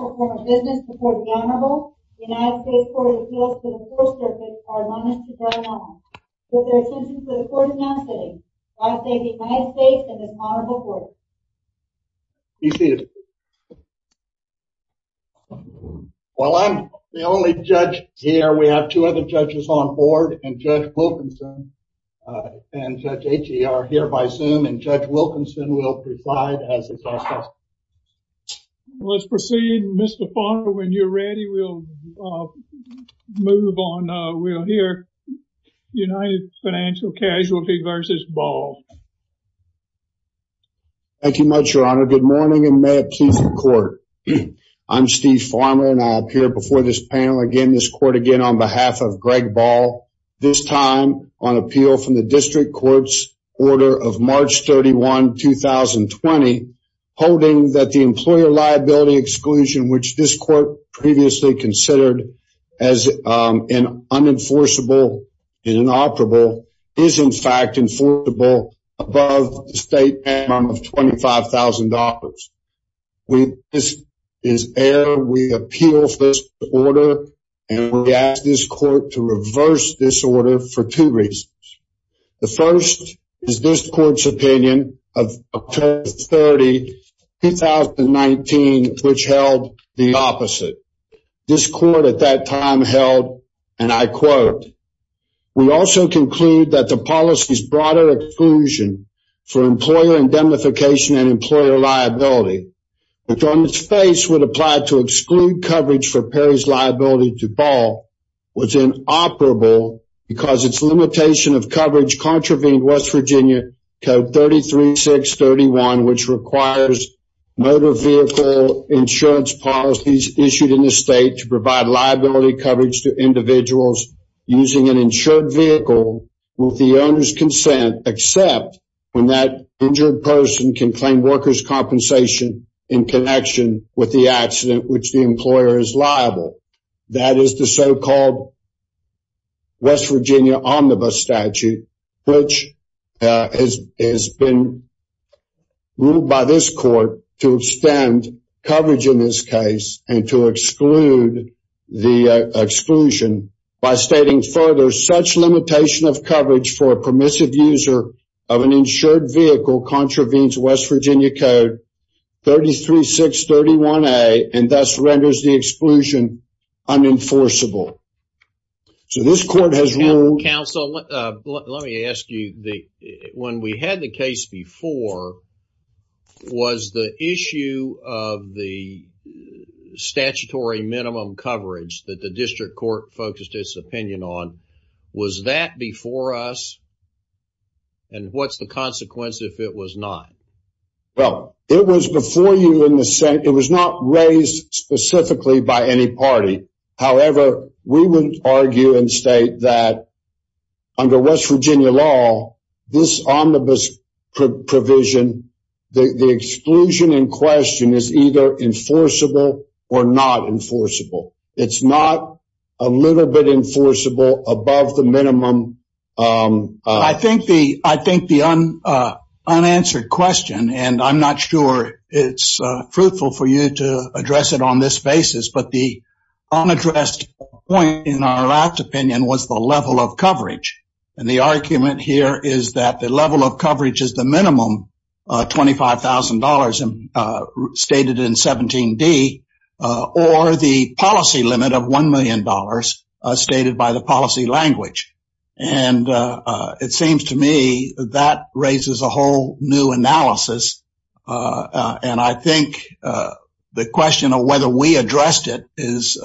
The Court of Business reports the Honorable United States Court of Appeals to the 4th Circuit are admonished to drawing on. With their attention to the court's non-sitting, I thank the United States and this Honorable Court. Be seated. While I'm the only judge here, we have two other judges on board, and Judge Wilkinson and Judge H.E. are here by Zoom, and Judge Wilkinson will preside as a justice. Let's proceed. Mr. Farmer, when you're ready, we'll move on. We'll hear United Financial Casualty v. Ball. Thank you much, Your Honor. Good morning, and may it please the Court. I'm Steve Farmer, and I appear before this panel again, this Court again, on behalf of Greg Ball, this time on appeal from the District Court's order of March 31, 2020, holding that the employer liability exclusion, which this Court previously considered as an unenforceable and inoperable, is in fact enforceable above the state minimum of $25,000. This is error. We appeal this order, and we ask this Court to reverse this order for two reasons. The first is this Court's opinion of October 30, 2019, which held the opposite. This Court at that time held, and I quote, in the state to provide liability coverage to individuals using an insured vehicle with the owner's consent, except when that injured person can claim workers' compensation in connection with the accident which the employer is liable. That is the so-called West Virginia omnibus statute, which has been ruled by this Court to extend coverage in this case and to exclude the exclusion. By stating further, such limitation of coverage for a permissive user of an insured vehicle contravenes West Virginia Code 33631A and thus renders the exclusion unenforceable. So this Court has ruled... Counsel, let me ask you, when we had the case before, was the issue of the statutory minimum coverage that the district court focused its opinion on, was that before us, and what's the consequence if it was not? Well, it was before you in the Senate. It was not raised specifically by any party. However, we would argue and state that under West Virginia law, this omnibus provision, the exclusion in question is either enforceable or not enforceable. It's not a little bit enforceable above the minimum... I think the unanswered question, and I'm not sure it's fruitful for you to address it on this basis, but the unaddressed point in our last opinion was the level of coverage. And the argument here is that the level of coverage is the minimum, $25,000 stated in 17D, or the policy limit of $1 million stated by the policy language. And it seems to me that that raises a whole new analysis. And I think the question of whether we addressed it is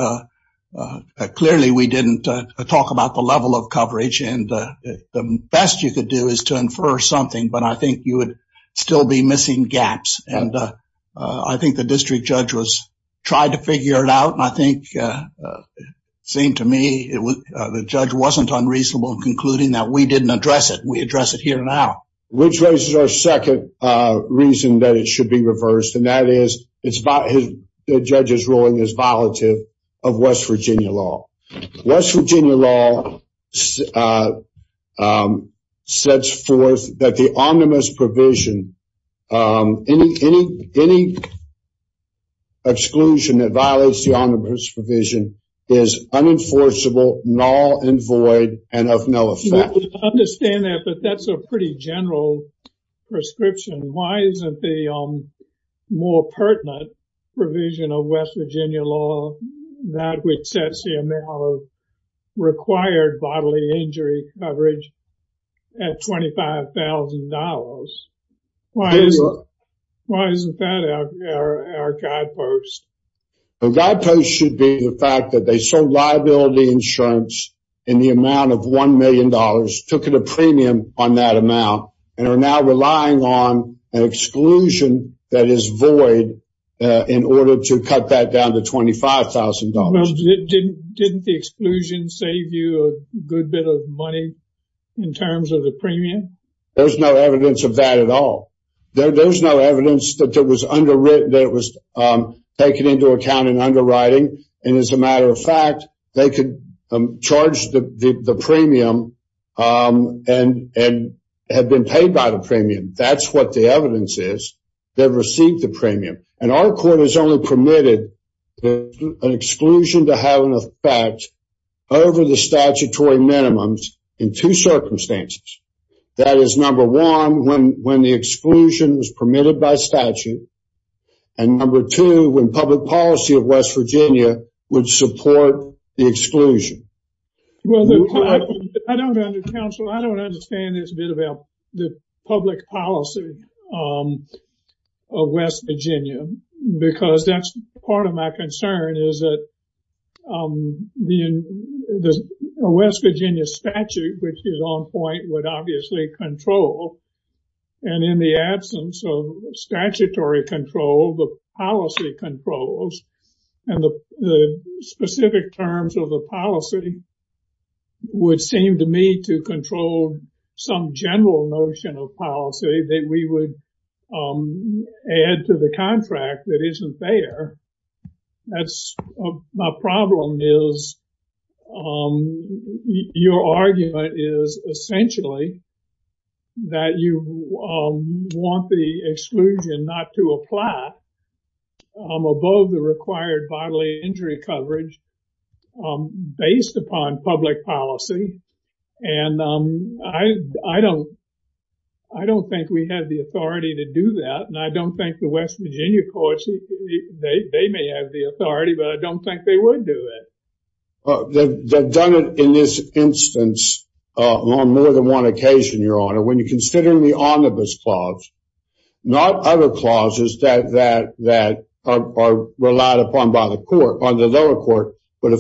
clearly we didn't talk about the level of coverage. And the best you could do is to infer something, but I think you would still be missing gaps. I think the district judge tried to figure it out, and I think it seemed to me the judge wasn't unreasonable in concluding that we didn't address it. We address it here now. Which raises our second reason that it should be reversed, and that is the judge's ruling is violative of West Virginia law. West Virginia law sets forth that the omnibus provision, any exclusion that violates the omnibus provision is unenforceable, null and void, and of no effect. I understand that, but that's a pretty general prescription. Why isn't the more pertinent provision of West Virginia law that which sets the amount of required bodily injury coverage at $25,000? Why isn't that our guidepost? The guidepost should be the fact that they sold liability insurance in the amount of $1 million, took it a premium on that amount, and are now relying on an exclusion that is void in order to cut that down to $25,000. Well, didn't the exclusion save you a good bit of money in terms of the premium? There's no evidence of that at all. There's no evidence that it was taken into account in underwriting, and as a matter of fact, they could charge the premium and have been paid by the premium. That's what the evidence is. They've received the premium, and our court has only permitted an exclusion to have an effect over the statutory minimums in two circumstances. That is number one, when the exclusion was permitted by statute, and number two, when public policy of West Virginia would support the exclusion. Well, I don't understand this bit about the public policy of West Virginia, because that's part of my concern is that the West Virginia statute, which is on point, would obviously control. And in the absence of statutory control, the policy controls, and the specific terms of the policy would seem to me to control some general notion of policy that we would add to the contract that isn't there. That's my problem is your argument is essentially that you want the exclusion not to apply above the required bodily injury coverage based upon public policy. And I don't think we have the authority to do that, and I don't think the West Virginia courts, they may have the authority, but I don't think they would do it. They've done it in this instance on more than one occasion, Your Honor. When you consider the omnibus clause, not other clauses that are relied upon by the lower court, but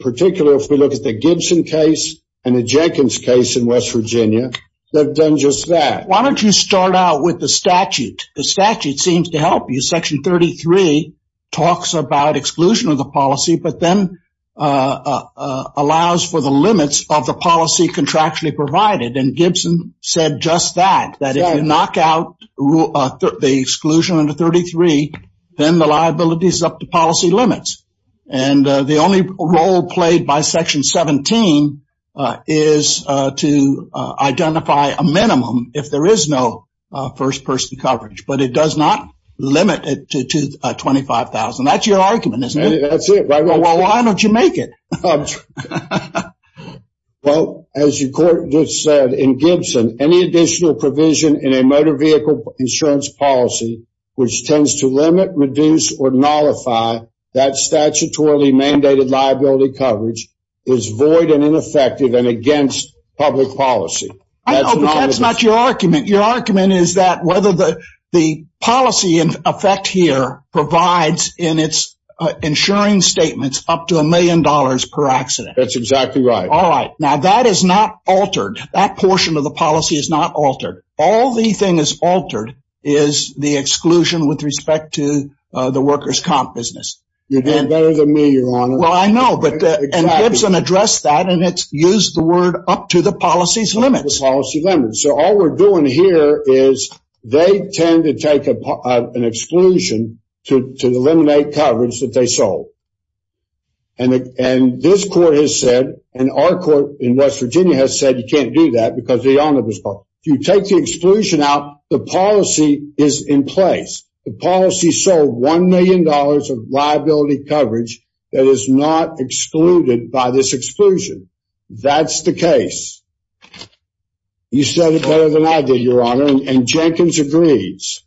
particularly if we look at the Gibson case and the Jenkins case in West Virginia, they've done just that. Why don't you start out with the statute? The statute seems to help you. Section 33 talks about exclusion of the policy, but then allows for the limits of the policy contractually provided. And Gibson said just that, that if you knock out the exclusion under 33, then the liability is up to policy limits. And the only role played by Section 17 is to identify a minimum if there is no first-person coverage, but it does not limit it to 25,000. That's your argument, isn't it? That's it. Well, why don't you make it? Well, as your court just said, in Gibson, any additional provision in a motor vehicle insurance policy which tends to limit, reduce, or nullify that statutorily mandated liability coverage is void and ineffective and against public policy. I know, but that's not your argument. Your argument is that whether the policy in effect here provides in its insuring statements up to a million dollars per accident. That's exactly right. All right. Now, that is not altered. That portion of the policy is not altered. All the thing that's altered is the exclusion with respect to the workers' comp business. You're doing better than me, Your Honor. Well, I know. And Gibson addressed that, and it's used the word up to the policy's limits. Up to the policy limits. So, all we're doing here is they tend to take an exclusion to eliminate coverage that they sold. And this court has said, and our court in West Virginia has said you can't do that because the owner was caught. If you take the exclusion out, the policy is in place. The policy sold $1 million of liability coverage that is not excluded by this exclusion. That's the case. You said it better than I did, Your Honor, and Jenkins agrees.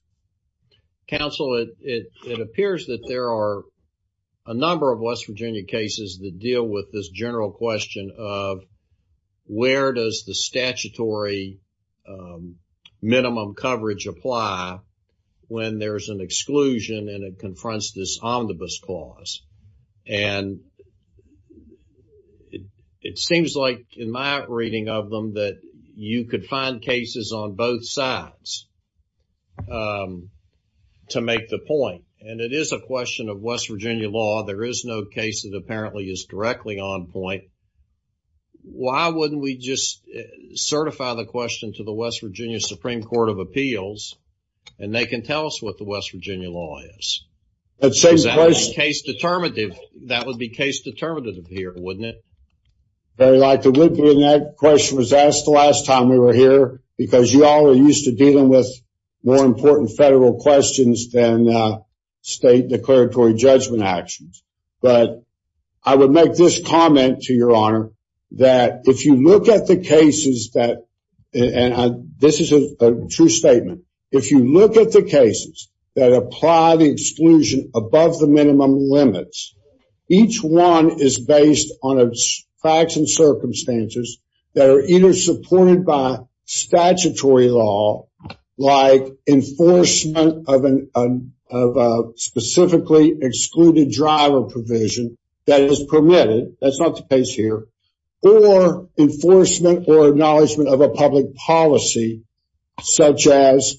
Counsel, it appears that there are a number of West Virginia cases that deal with this general question of where does the statutory minimum coverage apply when there's an exclusion and it confronts this omnibus clause. And it seems like in my reading of them that you could find cases on both sides to make the point. And it is a question of West Virginia law. There is no case that apparently is directly on point. Why wouldn't we just certify the question to the West Virginia Supreme Court of Appeals and they can tell us what the West Virginia law is? That would be case determinative here, wouldn't it? Very likely it would be, and that question was asked the last time we were here because you all are used to dealing with more important federal questions than state declaratory judgment actions. But I would make this comment to Your Honor, that if you look at the cases that, and this is a true statement, if you look at the cases that apply the exclusion above the minimum limits, each one is based on facts and circumstances that are either supported by statutory law, like enforcement of a specifically excluded driver provision that is permitted, that's not the case here, or enforcement or acknowledgement of a public policy such as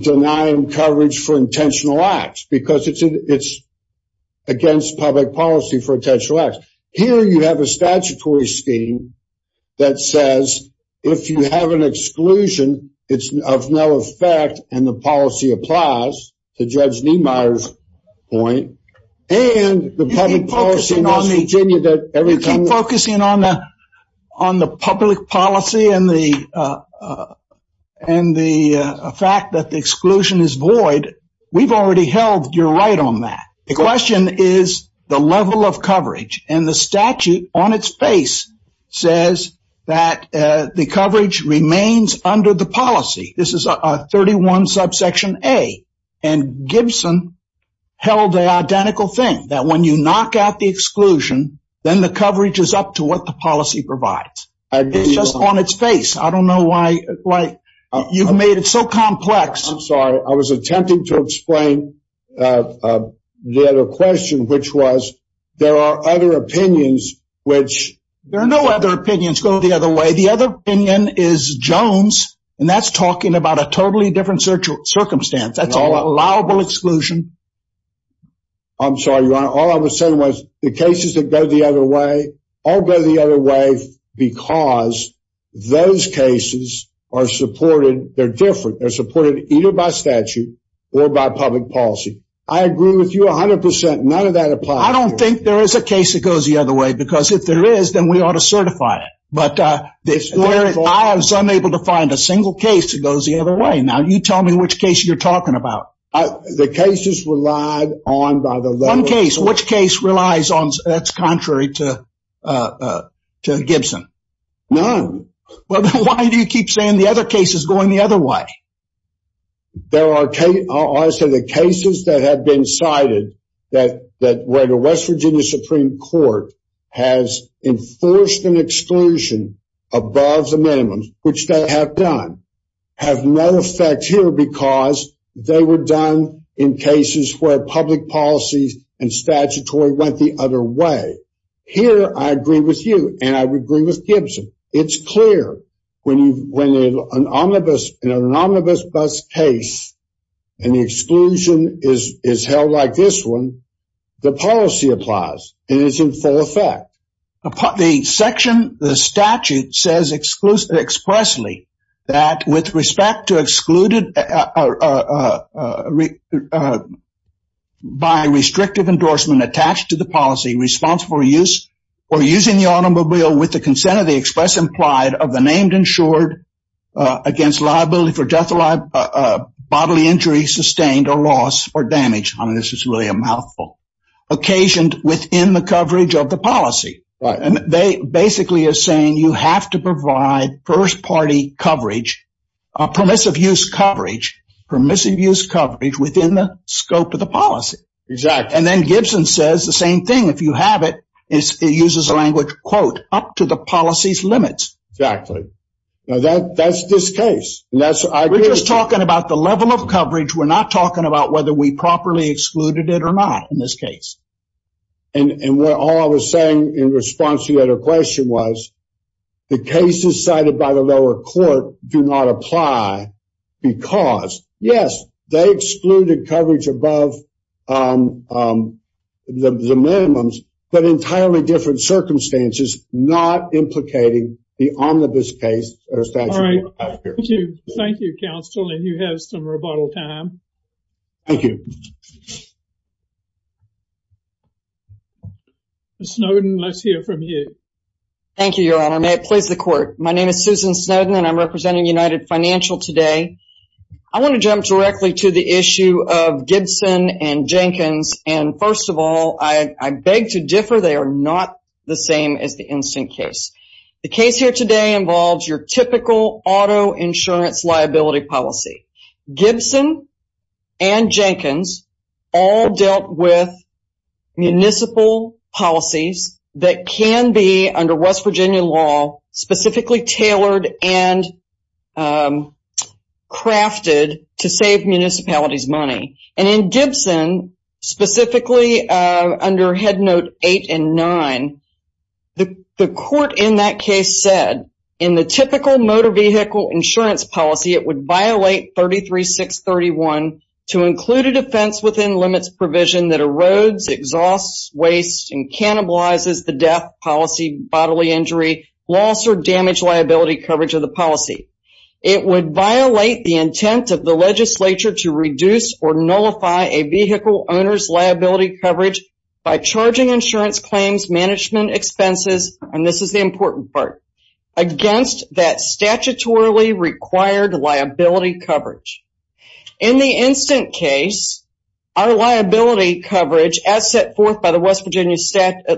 denying coverage for intentional acts because it's against public policy for intentional acts. Here you have a statutory scheme that says if you have an exclusion, it's of no effect, and the policy applies to Judge Niemeyer's point, and the public policy in West Virginia. If you keep focusing on the public policy and the fact that the exclusion is void, we've already held your right on that. The question is the level of coverage, and the statute on its face says that the coverage remains under the policy. This is 31 subsection A, and Gibson held the identical thing, that when you knock out the exclusion, then the coverage is up to what the policy provides. It's just on its face. I don't know why you've made it so complex. I'm sorry. I was attempting to explain the other question, which was there are other opinions. There are no other opinions. Go the other way. The other opinion is Jones, and that's talking about a totally different circumstance. That's an allowable exclusion. I'm sorry, Your Honor. All I was saying was the cases that go the other way all go the other way because those cases are supported. They're different. They're supported either by statute or by public policy. I agree with you 100%. None of that applies here. I don't think there is a case that goes the other way because if there is, then we ought to certify it. But where I was unable to find a single case that goes the other way. Now, you tell me which case you're talking about. The cases relied on by the level of- One case. Which case relies on that's contrary to Gibson? None. Well, then why do you keep saying the other case is going the other way? I say the cases that have been cited where the West Virginia Supreme Court has enforced an exclusion above the minimums, which they have done, have no effect here because they were done in cases where public policy and statutory went the other way. Here, I agree with you, and I would agree with Gibson. It's clear when an omnibus bus case and the exclusion is held like this one, the policy applies, and it's in full effect. The section, the statute says expressly that with respect to excluded by restrictive endorsement attached to the policy responsible for using the automobile with the consent of the express implied of the named insured against liability for death, bodily injury sustained or loss or damage. I mean, this is really a mouthful. Occasioned within the coverage of the policy. And they basically are saying you have to provide first party coverage, permissive use coverage, permissive use coverage within the scope of the policy. Exactly. And then Gibson says the same thing. If you have it, it uses a language, quote, up to the policy's limits. Exactly. Now, that's this case. And that's what I agree with you. We're just talking about the level of coverage. We're not talking about whether we properly excluded it or not in this case. And what all I was saying in response to your question was the cases cited by the lower court do not apply because, yes, they excluded coverage above the minimums, but entirely different circumstances, not implicating the omnibus case. Thank you. Thank you, counsel. And you have some rebuttal time. Thank you. Snowden, let's hear from you. Thank you, Your Honor. May it please the court. My name is Susan Snowden and I'm representing United Financial today. I want to jump directly to the issue of Gibson and Jenkins. And first of all, I beg to differ. They are not the same as the instant case. The case here today involves your typical auto insurance liability policy. Gibson and Jenkins all dealt with municipal policies that can be, under West Virginia law, specifically tailored and crafted to save municipalities money. And in Gibson, specifically under Headnote 8 and 9, the court in that case said, in the typical motor vehicle insurance policy, it would violate 33631 to include a defense within limits provision that erodes, exhausts, wastes, and cannibalizes the death policy, bodily injury, loss, or damage liability coverage of the policy. It would violate the intent of the legislature to reduce or nullify a vehicle owner's liability coverage by charging insurance claims management expenses, and this is the important part, against that statutorily required liability coverage. In the instant case, our liability coverage, as set forth by the West Virginia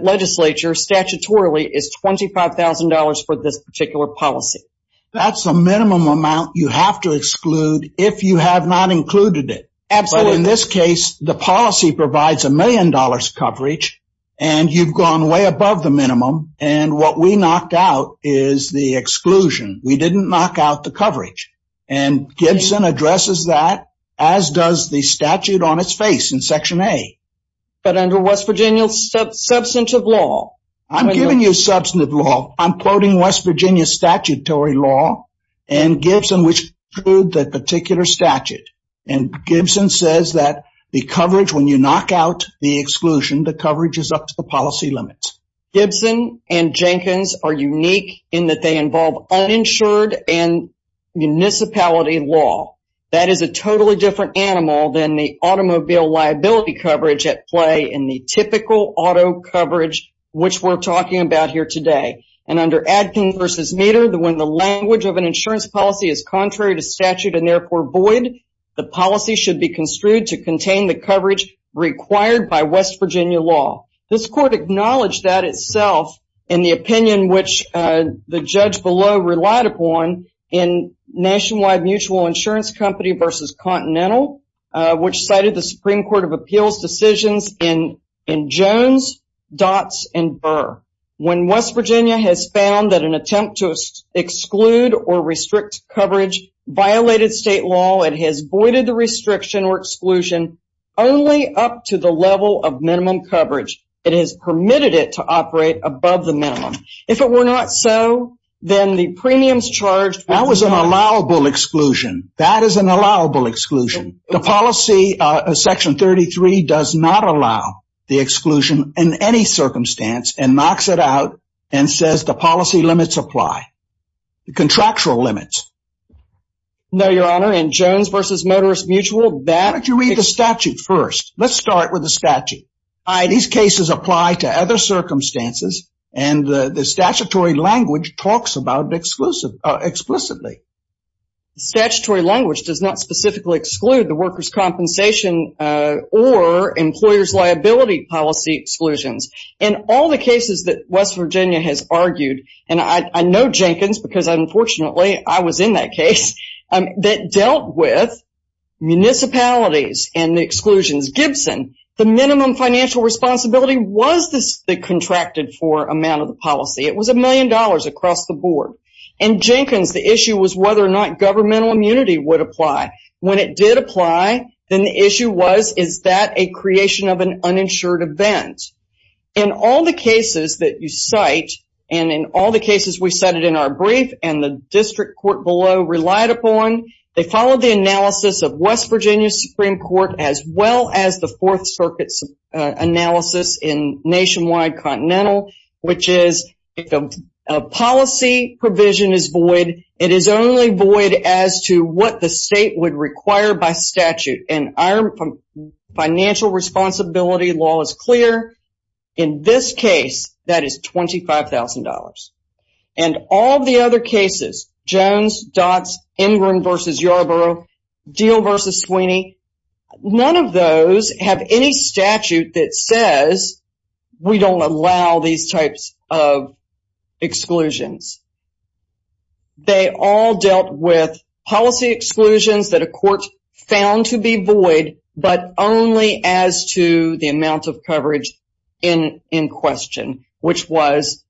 legislature statutorily, is $25,000 for this particular policy. That's the minimum amount you have to exclude if you have not included it. Absolutely. But in this case, the policy provides a million dollars coverage, and you've gone way above the minimum, and what we knocked out is the exclusion. We didn't knock out the coverage. And Gibson addresses that, as does the statute on its face in Section A. But under West Virginia substantive law. I'm giving you substantive law. I'm quoting West Virginia statutory law, and Gibson, which includes that particular statute. And Gibson says that the coverage, when you knock out the exclusion, the coverage is up to the policy limits. Gibson and Jenkins are unique in that they involve uninsured and municipality law. That is a totally different animal than the automobile liability coverage at play in the typical auto coverage, which we're talking about here today. And under Adkins v. Meder, when the language of an insurance policy is contrary to statute and therefore void, the policy should be construed to contain the coverage required by West Virginia law. This court acknowledged that itself in the opinion which the judge below relied upon in Nationwide Mutual Insurance Company v. Continental, which cited the Supreme Court of Appeals decisions in Jones, Dotz, and Burr. When West Virginia has found that an attempt to exclude or restrict coverage violated state law, it has voided the restriction or exclusion only up to the level of minimum coverage. It has permitted it to operate above the minimum. If it were not so, then the premiums charged... That was an allowable exclusion. That is an allowable exclusion. The policy, Section 33, does not allow the exclusion in any circumstance and knocks it out and says the policy limits apply. Contractual limits. No, Your Honor, in Jones v. Motorist Mutual... Why don't you read the statute first? Let's start with the statute. These cases apply to other circumstances and the statutory language talks about it explicitly. Statutory language does not specifically exclude the workers' compensation or employers' liability policy exclusions. In all the cases that West Virginia has argued, and I know Jenkins because unfortunately I was in that case, that dealt with municipalities and the exclusions. Gibson, the minimum financial responsibility was the contracted for amount of the policy. It was a million dollars across the board. In Jenkins, the issue was whether or not governmental immunity would apply. When it did apply, then the issue was, is that a creation of an uninsured event? In all the cases that you cite, and in all the cases we cited in our brief and the district court below relied upon, they followed the analysis of West Virginia's Supreme Court as well as the Fourth Circuit's analysis in Nationwide Continental, which is if a policy provision is void, it is only void as to what the state would require by statute. And our financial responsibility law is clear. In this case, that is $25,000. And all the other cases, Jones, Dotz, Ingram v. Yarborough, Deal v. Sweeney, none of those have any statute that says we don't allow these types of exclusions. They all dealt with policy exclusions that a court found to be void, but only as to the amount of coverage in question, which was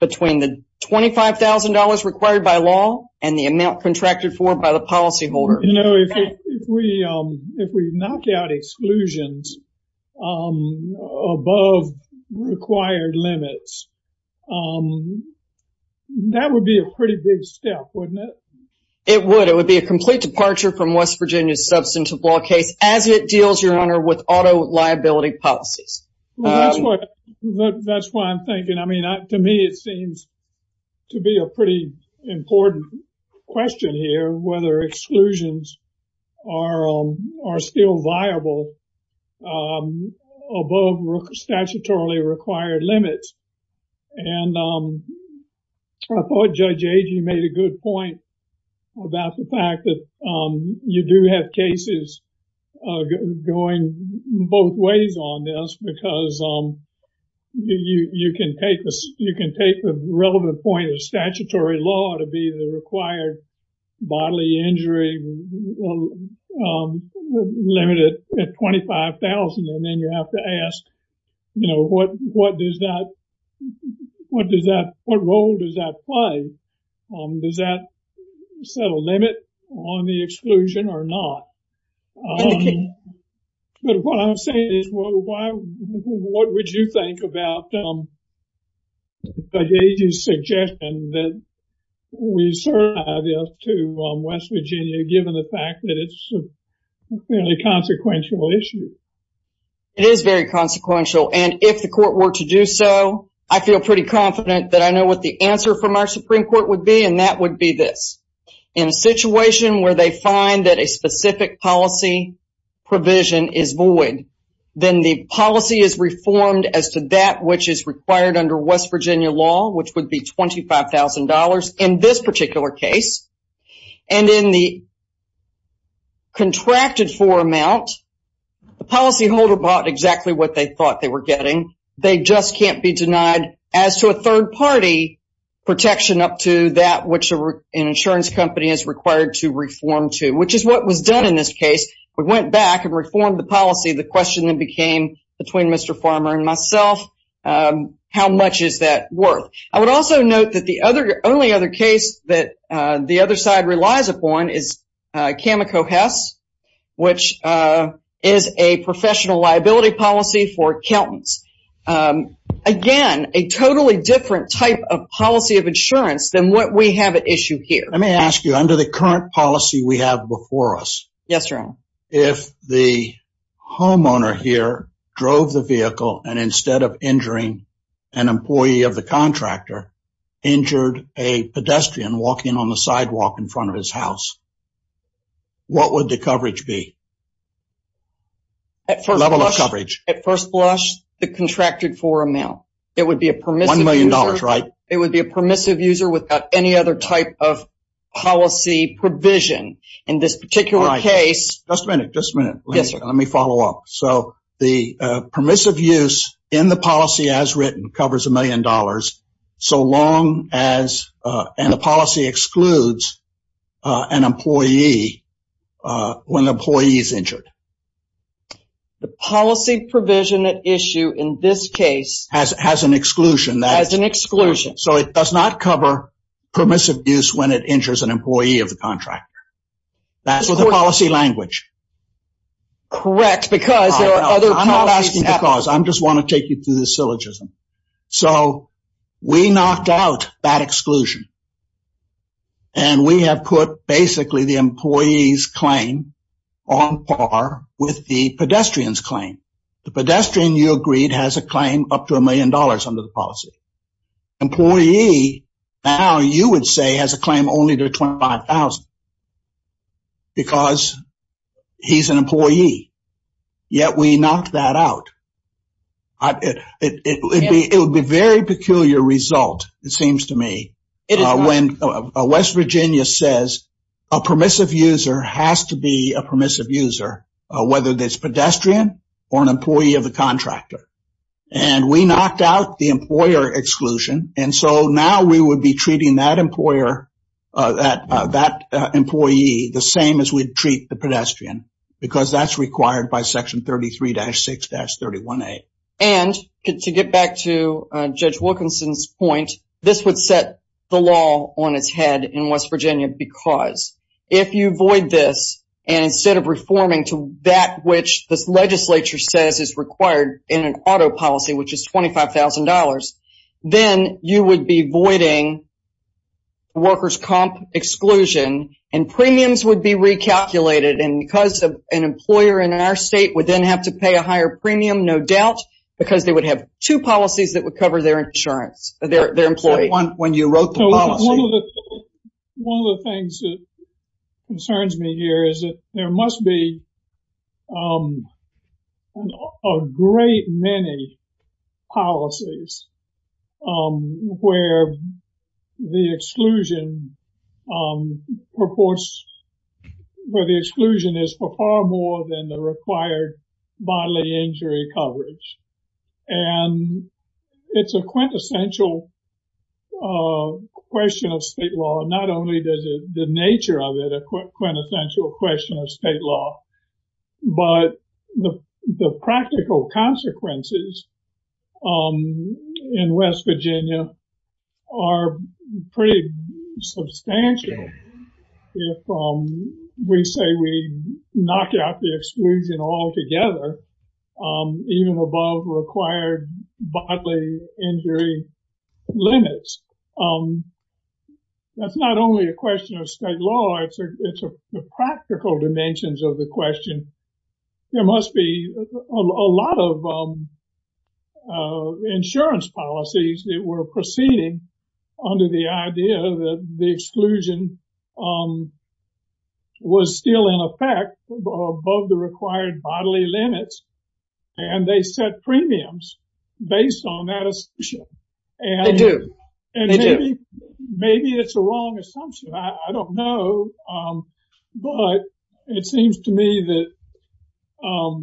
between the $25,000 required by law and the amount contracted for by the policyholder. You know, if we knock out exclusions above required limits, that would be a pretty big step, wouldn't it? It would. It would be a complete departure from West Virginia's substantive law case as it deals, Your Honor, with auto liability policies. That's what I'm thinking. I mean, to me, it seems to be a pretty important question here, whether exclusions are still viable above statutorily required limits. And I thought Judge Agee made a good point about the fact that you do have cases going both ways on this, because you can take the relevant point of statutory law to be the required bodily injury limit at $25,000, and then you have to ask, you know, what role does that play? Does that set a limit on the exclusion or not? But what I'm saying is, what would you think about Judge Agee's suggestion that we serve to West Virginia, given the fact that it's a fairly consequential issue? It is very consequential, and if the court were to do so, I feel pretty confident that I know what the answer from our Supreme Court would be, and that would be this. In a situation where they find that a specific policy provision is void, then the policy is reformed as to that which is required under West Virginia law, which would be $25,000 in this particular case. And in the contracted-for amount, the policyholder bought exactly what they thought they were getting. They just can't be denied as to a third-party protection up to that which an insurance company is required to reform to, which is what was done in this case. We went back and reformed the policy. The question then became, between Mr. Farmer and myself, how much is that worth? I would also note that the only other case that the other side relies upon is Cameco Hess, which is a professional liability policy for accountants. Again, a totally different type of policy of insurance than what we have at issue here. Let me ask you, under the current policy we have before us, if the homeowner here drove the vehicle, and instead of injuring an employee of the contractor, injured a pedestrian walking on the sidewalk in front of his house, what would the coverage be? Level of coverage. At first blush, the contracted-for amount. It would be a permissive user. $1 million, right? It would be a permissive user without any other type of policy provision. In this particular case. Just a minute, just a minute. Let me follow up. So the permissive use in the policy as written covers $1 million, so long as the policy excludes an employee when the employee is injured. The policy provision at issue in this case. Has an exclusion. Has an exclusion. So it does not cover permissive use when it injures an employee of the contractor. That's with the policy language. Correct, because there are other policies. I'm not asking because. I just want to take you through the syllogism. So we knocked out that exclusion. And we have put basically the employee's claim on par with the pedestrian's claim. The pedestrian, you agreed, has a claim up to $1 million under the policy. Employee, now you would say, has a claim only to $25,000. Because he's an employee. Yet we knocked that out. It would be a very peculiar result, it seems to me. When West Virginia says a permissive user has to be a permissive user, whether it's a pedestrian or an employee of the contractor. And we knocked out the employer exclusion. And so now we would be treating that employer, that employee, the same as we'd treat the pedestrian. Because that's required by Section 33-6-31A. And to get back to Judge Wilkinson's point, this would set the law on its head in West Virginia. Because if you void this, and instead of reforming to that which this legislature says is required in an auto policy, which is $25,000, then you would be voiding workers' comp exclusion. And premiums would be recalculated. And because an employer in our state would then have to pay a higher premium, no doubt, because they would have two policies that would cover their insurance, their employee. One of the things that concerns me here is that there must be a great many policies where the exclusion is for far more than the required bodily injury coverage. And it's a quintessential question of state law. Not only does the nature of it a quintessential question of state law, but the practical consequences in West Virginia are pretty substantial. If we say we knock out the exclusion altogether, even above required bodily injury limits, that's not only a question of state law, it's the practical dimensions of the question. There must be a lot of insurance policies that were proceeding under the idea that the exclusion was still in effect above the required bodily limits. And they set premiums based on that assumption. And maybe it's a wrong assumption. I don't know. But it seems to me that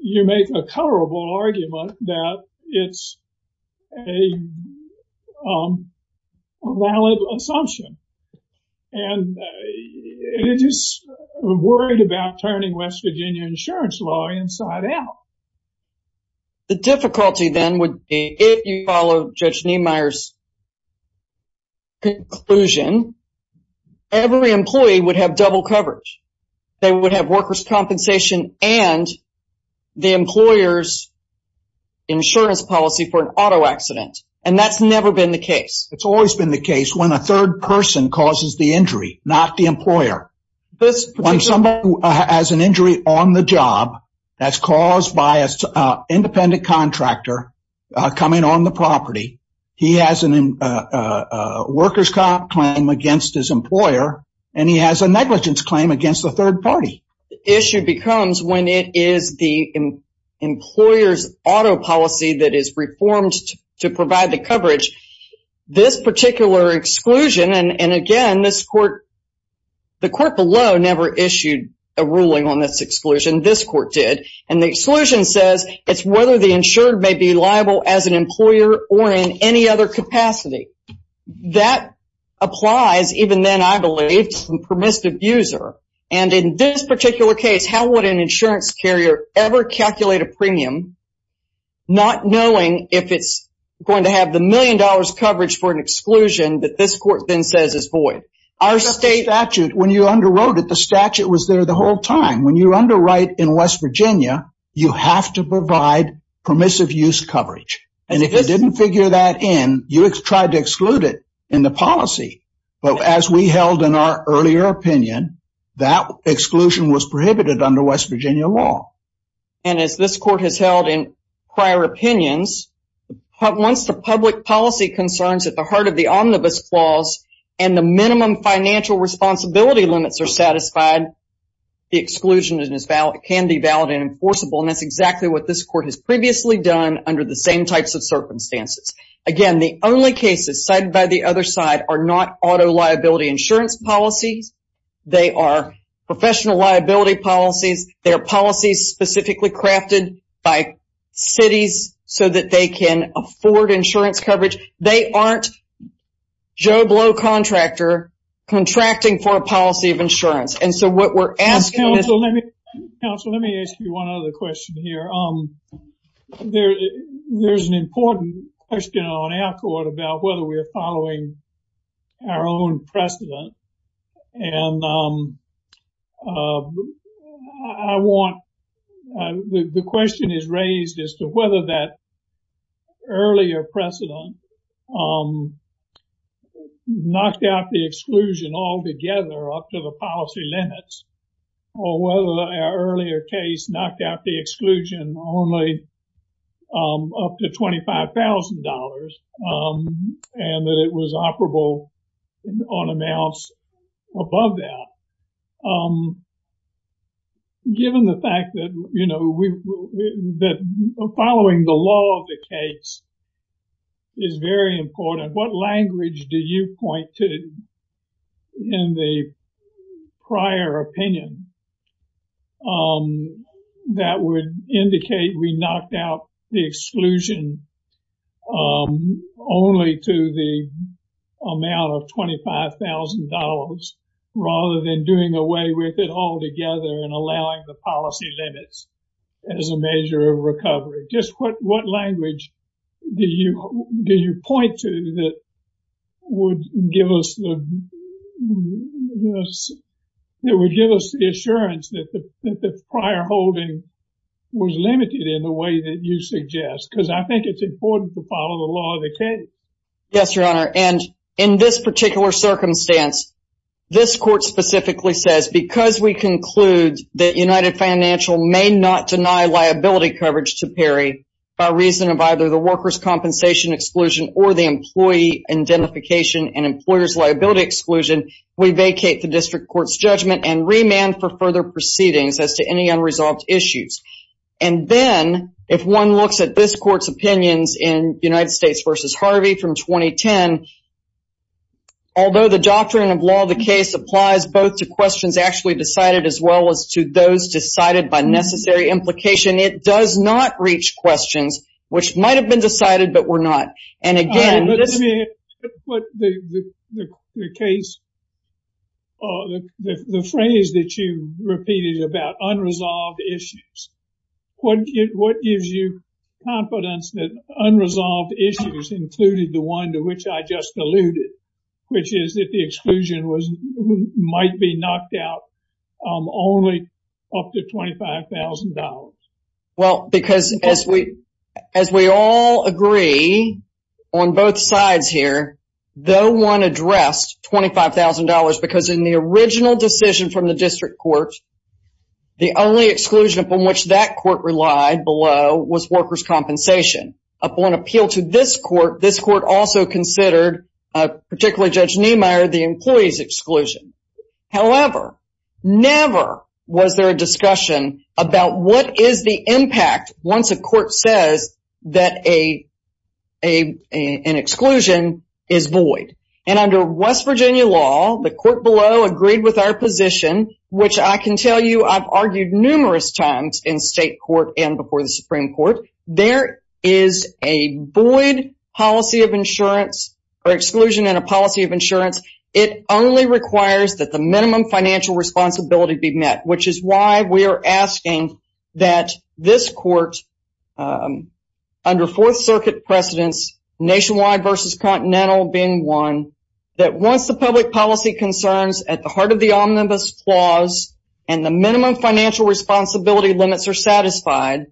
you make a colorable argument that it's a valid assumption. And it is worried about turning West Virginia insurance law inside out. The difficulty then would be if you follow Judge Niemeyer's conclusion, every employee would have double coverage. They would have workers' compensation and the employer's insurance policy for And that's never been the case. It's always been the case when a third person causes the injury, not the employer. When somebody has an injury on the job that's caused by an independent contractor coming on the property, he has a workers' comp claim against his employer, and he has a negligence claim against the third party. The issue becomes when it is the employer's auto policy that is reformed to provide the coverage. This particular exclusion, and again, the court below never issued a ruling on this exclusion. This court did. And the exclusion says it's whether the insured may be liable as an employer or in any other capacity. That applies even then, I believe, to the permissive user. And in this particular case, how would an insurance carrier ever calculate a million dollars coverage for an exclusion that this court then says is void? When you underwrote it, the statute was there the whole time. When you underwrite in West Virginia, you have to provide permissive use coverage. And if you didn't figure that in, you tried to exclude it in the policy. But as we held in our earlier opinion, that exclusion was prohibited under West Virginia law. And as this court has held in prior opinions, once the public policy concerns at the heart of the omnibus clause and the minimum financial responsibility limits are satisfied, the exclusion can be valid and enforceable. And that's exactly what this court has previously done under the same types of circumstances. Again, the only cases cited by the other side are not auto liability insurance policies. They are professional liability policies. They are policies specifically crafted by cities so that they can afford insurance coverage. They aren't Joe Blow contractor contracting for a policy of insurance. And so what we're asking is- Counsel, let me ask you one other question here. There's an important question on our court about whether we're following our own precedent. And I want- the question is raised as to whether that earlier precedent knocked out the exclusion altogether up to the policy limits, or whether our earlier case knocked out the exclusion only up to $25,000 and that it was operable on amounts above that. Given the fact that, you know, following the law of the case is very important, what language do you point to in the prior opinion that would indicate we knocked out the exclusion only to the amount of $25,000 rather than doing away with it altogether and allowing the policy limits as a measure of recovery? Just what language do you point to that would give us the assurance that the prior holding was limited in the way that you suggest? Because I think it's important to follow the law of the case. Yes, Your Honor. And in this particular circumstance, this court specifically says, because we conclude that United Financial may not deny liability coverage to PERI by reason of either the worker's compensation exclusion or the employee identification and employer's liability exclusion, we vacate the district court's judgment and remand for further proceedings as to any unresolved issues. And then if one looks at this court's opinions in United States v. Harvey from 2010, although the doctrine of law of the case applies both to questions actually decided as well as to those decided by necessary implication, it does not reach questions which might have been decided but were not. Let me put the phrase that you repeated about unresolved issues. What gives you confidence that unresolved issues included the one to which I just alluded, which is that the exclusion might be knocked out only up to $25,000? Well, because as we all agree on both sides here, though one addressed $25,000 because in the original decision from the district court, the only exclusion upon which that court relied below was worker's compensation. Upon appeal to this court, this court also considered, particularly Judge Niemeyer, the employee's exclusion. However, never was there a discussion about what is the impact once a court says that an exclusion is void. And under West Virginia law, the court below agreed with our position, which I can tell you I've argued numerous times in state court and before the Supreme Court. There is a void policy of insurance or exclusion in a policy of insurance. It only requires that the minimum financial responsibility be met, which is why we are asking that this court, under Fourth Circuit precedence, nationwide versus continental being one, that once the public policy concerns at the heart of the omnibus clause and the minimum financial responsibility limits are satisfied,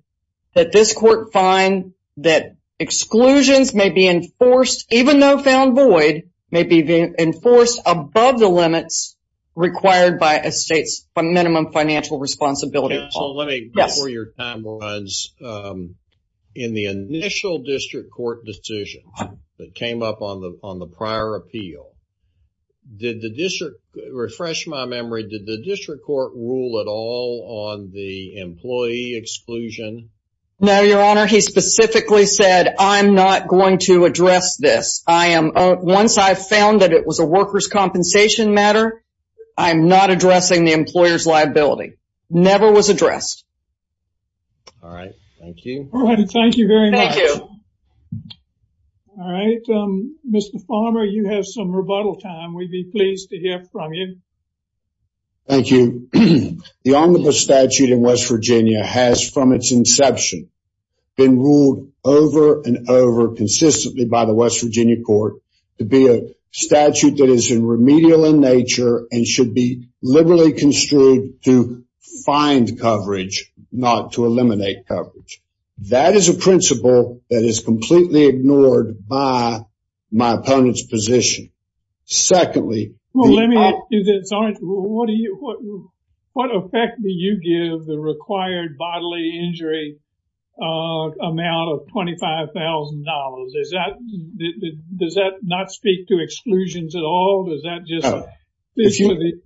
that this court find that exclusions may be enforced, even though found void may be enforced above the limits required by a state's minimum financial responsibility. Counsel, let me before your time runs. In the initial district court decision that came up on the prior appeal, did the district, refresh my memory, did the district court rule at all on the employee exclusion? No, Your Honor. He specifically said, I'm not going to address this. Once I found that it was a worker's compensation matter, I'm not addressing the employer's liability. Never was addressed. All right. Thank you. All right. Thank you very much. Thank you. All right. Mr. Farmer, you have some rebuttal time. We'd be pleased to hear from you. Thank you. The omnibus statute in West Virginia has, from its inception, been ruled over and over consistently by the West Virginia court to be a statute that is remedial in nature and should be liberally construed to find coverage, not to eliminate coverage. That is a principle that is completely ignored by my opponent's position. Secondly. Well, let me ask you this. What effect do you give the required bodily injury amount of $25,000? Does that not speak to exclusions at all? Does that just mean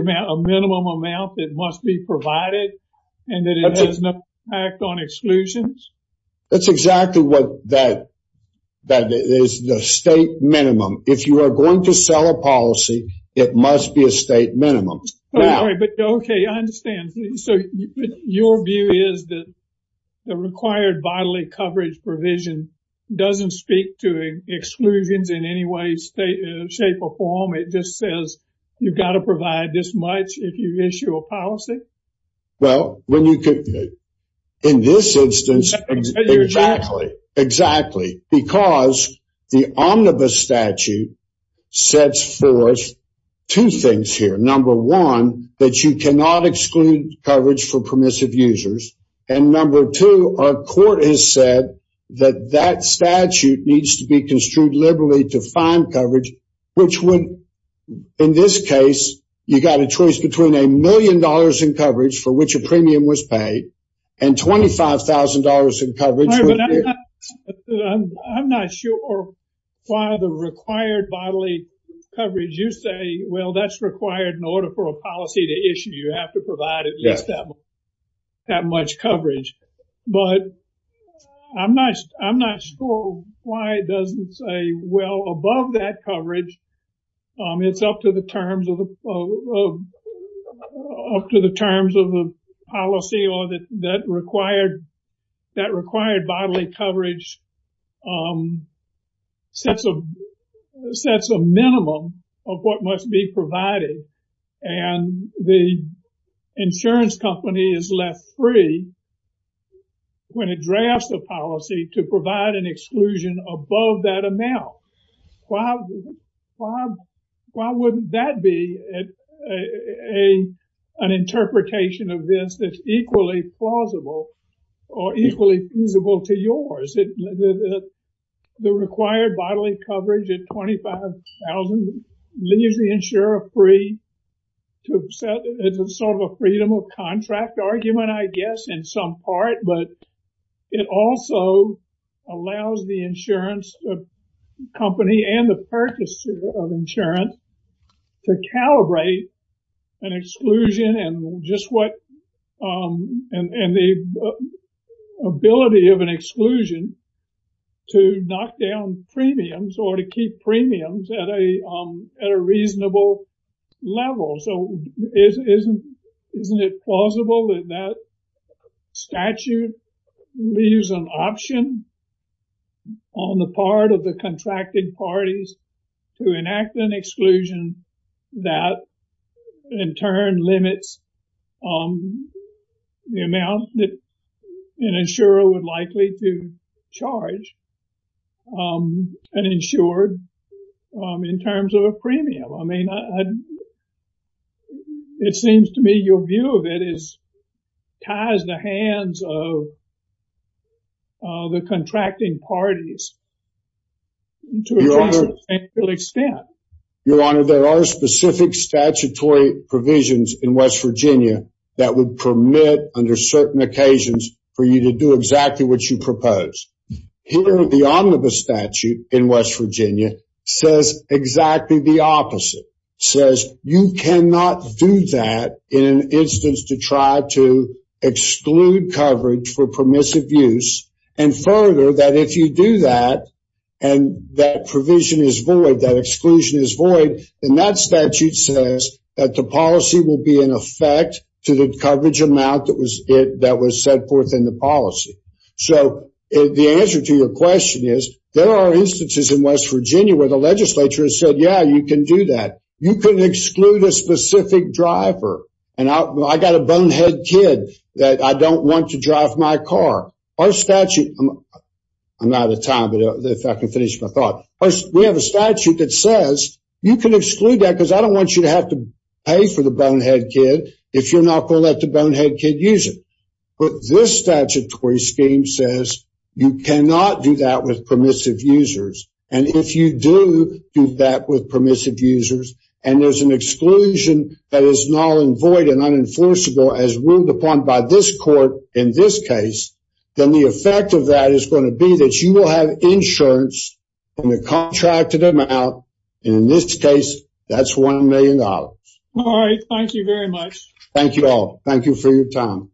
a minimum amount that must be provided and that it has no impact on exclusions? That's exactly what that is, the state minimum. If you are going to sell a policy, it must be a state minimum. Okay, I understand. So your view is that the required bodily coverage provision doesn't speak to exclusions in any way, shape, or form. It just says you've got to provide this much if you issue a policy? Well, in this instance, exactly. Because the omnibus statute sets forth two things here. Number one, that you cannot exclude coverage for permissive users. And number two, our court has said that that statute needs to be construed liberally to find coverage, which would, in this case, you've got a choice between a million dollars in coverage for which a premium was paid and $25,000 in coverage. I'm not sure why the required bodily coverage, you say, well that's required in order for a policy to issue. You have to provide at least that much coverage. But I'm not sure why it doesn't say, well, above that coverage, it's up to the terms of the policy or that required bodily coverage sets a minimum of what must be provided. And the insurance company is left free when it drafts a policy to provide an exclusion above that amount. Why wouldn't that be an interpretation of this that's equally plausible or equally feasible to yours? The required bodily coverage at $25,000 leaves the insurer free to set sort of a freedom of contract argument, I guess, in some part. But it also allows the insurance company and the purchaser of insurance to calibrate an exclusion and the ability of an exclusion to knock down premiums or to keep premiums at a reasonable level. So isn't it plausible that that statute leaves an option on the part of the contracted parties to enact an exclusion that in turn limits the amount that an insurer would likely to charge an insured in terms of a premium? I mean, it seems to me your view of it ties the hands of the contracting parties to a considerable extent. Your Honor, there are specific statutory provisions in West Virginia that would permit under certain occasions for you to do exactly what you propose. Here the omnibus statute in West Virginia says exactly the opposite. It says you cannot do that in an instance to try to exclude coverage for permissive use and further that if you do that and that provision is void, that exclusion is void, then that statute says that the policy will be in effect to the coverage amount that was set forth in the policy. So the answer to your question is there are instances in West Virginia where the legislature has said, yeah, you can do that. You can exclude a specific driver. I got a bonehead kid that I don't want to drive my car. Our statute, I'm out of time, but if I can finish my thought. We have a statute that says you can exclude that because I don't want you to have to pay for the bonehead kid if you're not going to let the bonehead kid use it. But this statutory scheme says you cannot do that with permissive users. And if you do do that with permissive users and there's an exclusion that is null and void and unenforceable as ruled upon by this court in this case, then the effect of that is going to be that you will have insurance on the contracted amount. And in this case, that's $1 million. All right. Thank you very much. Thank you all. Thank you for your time.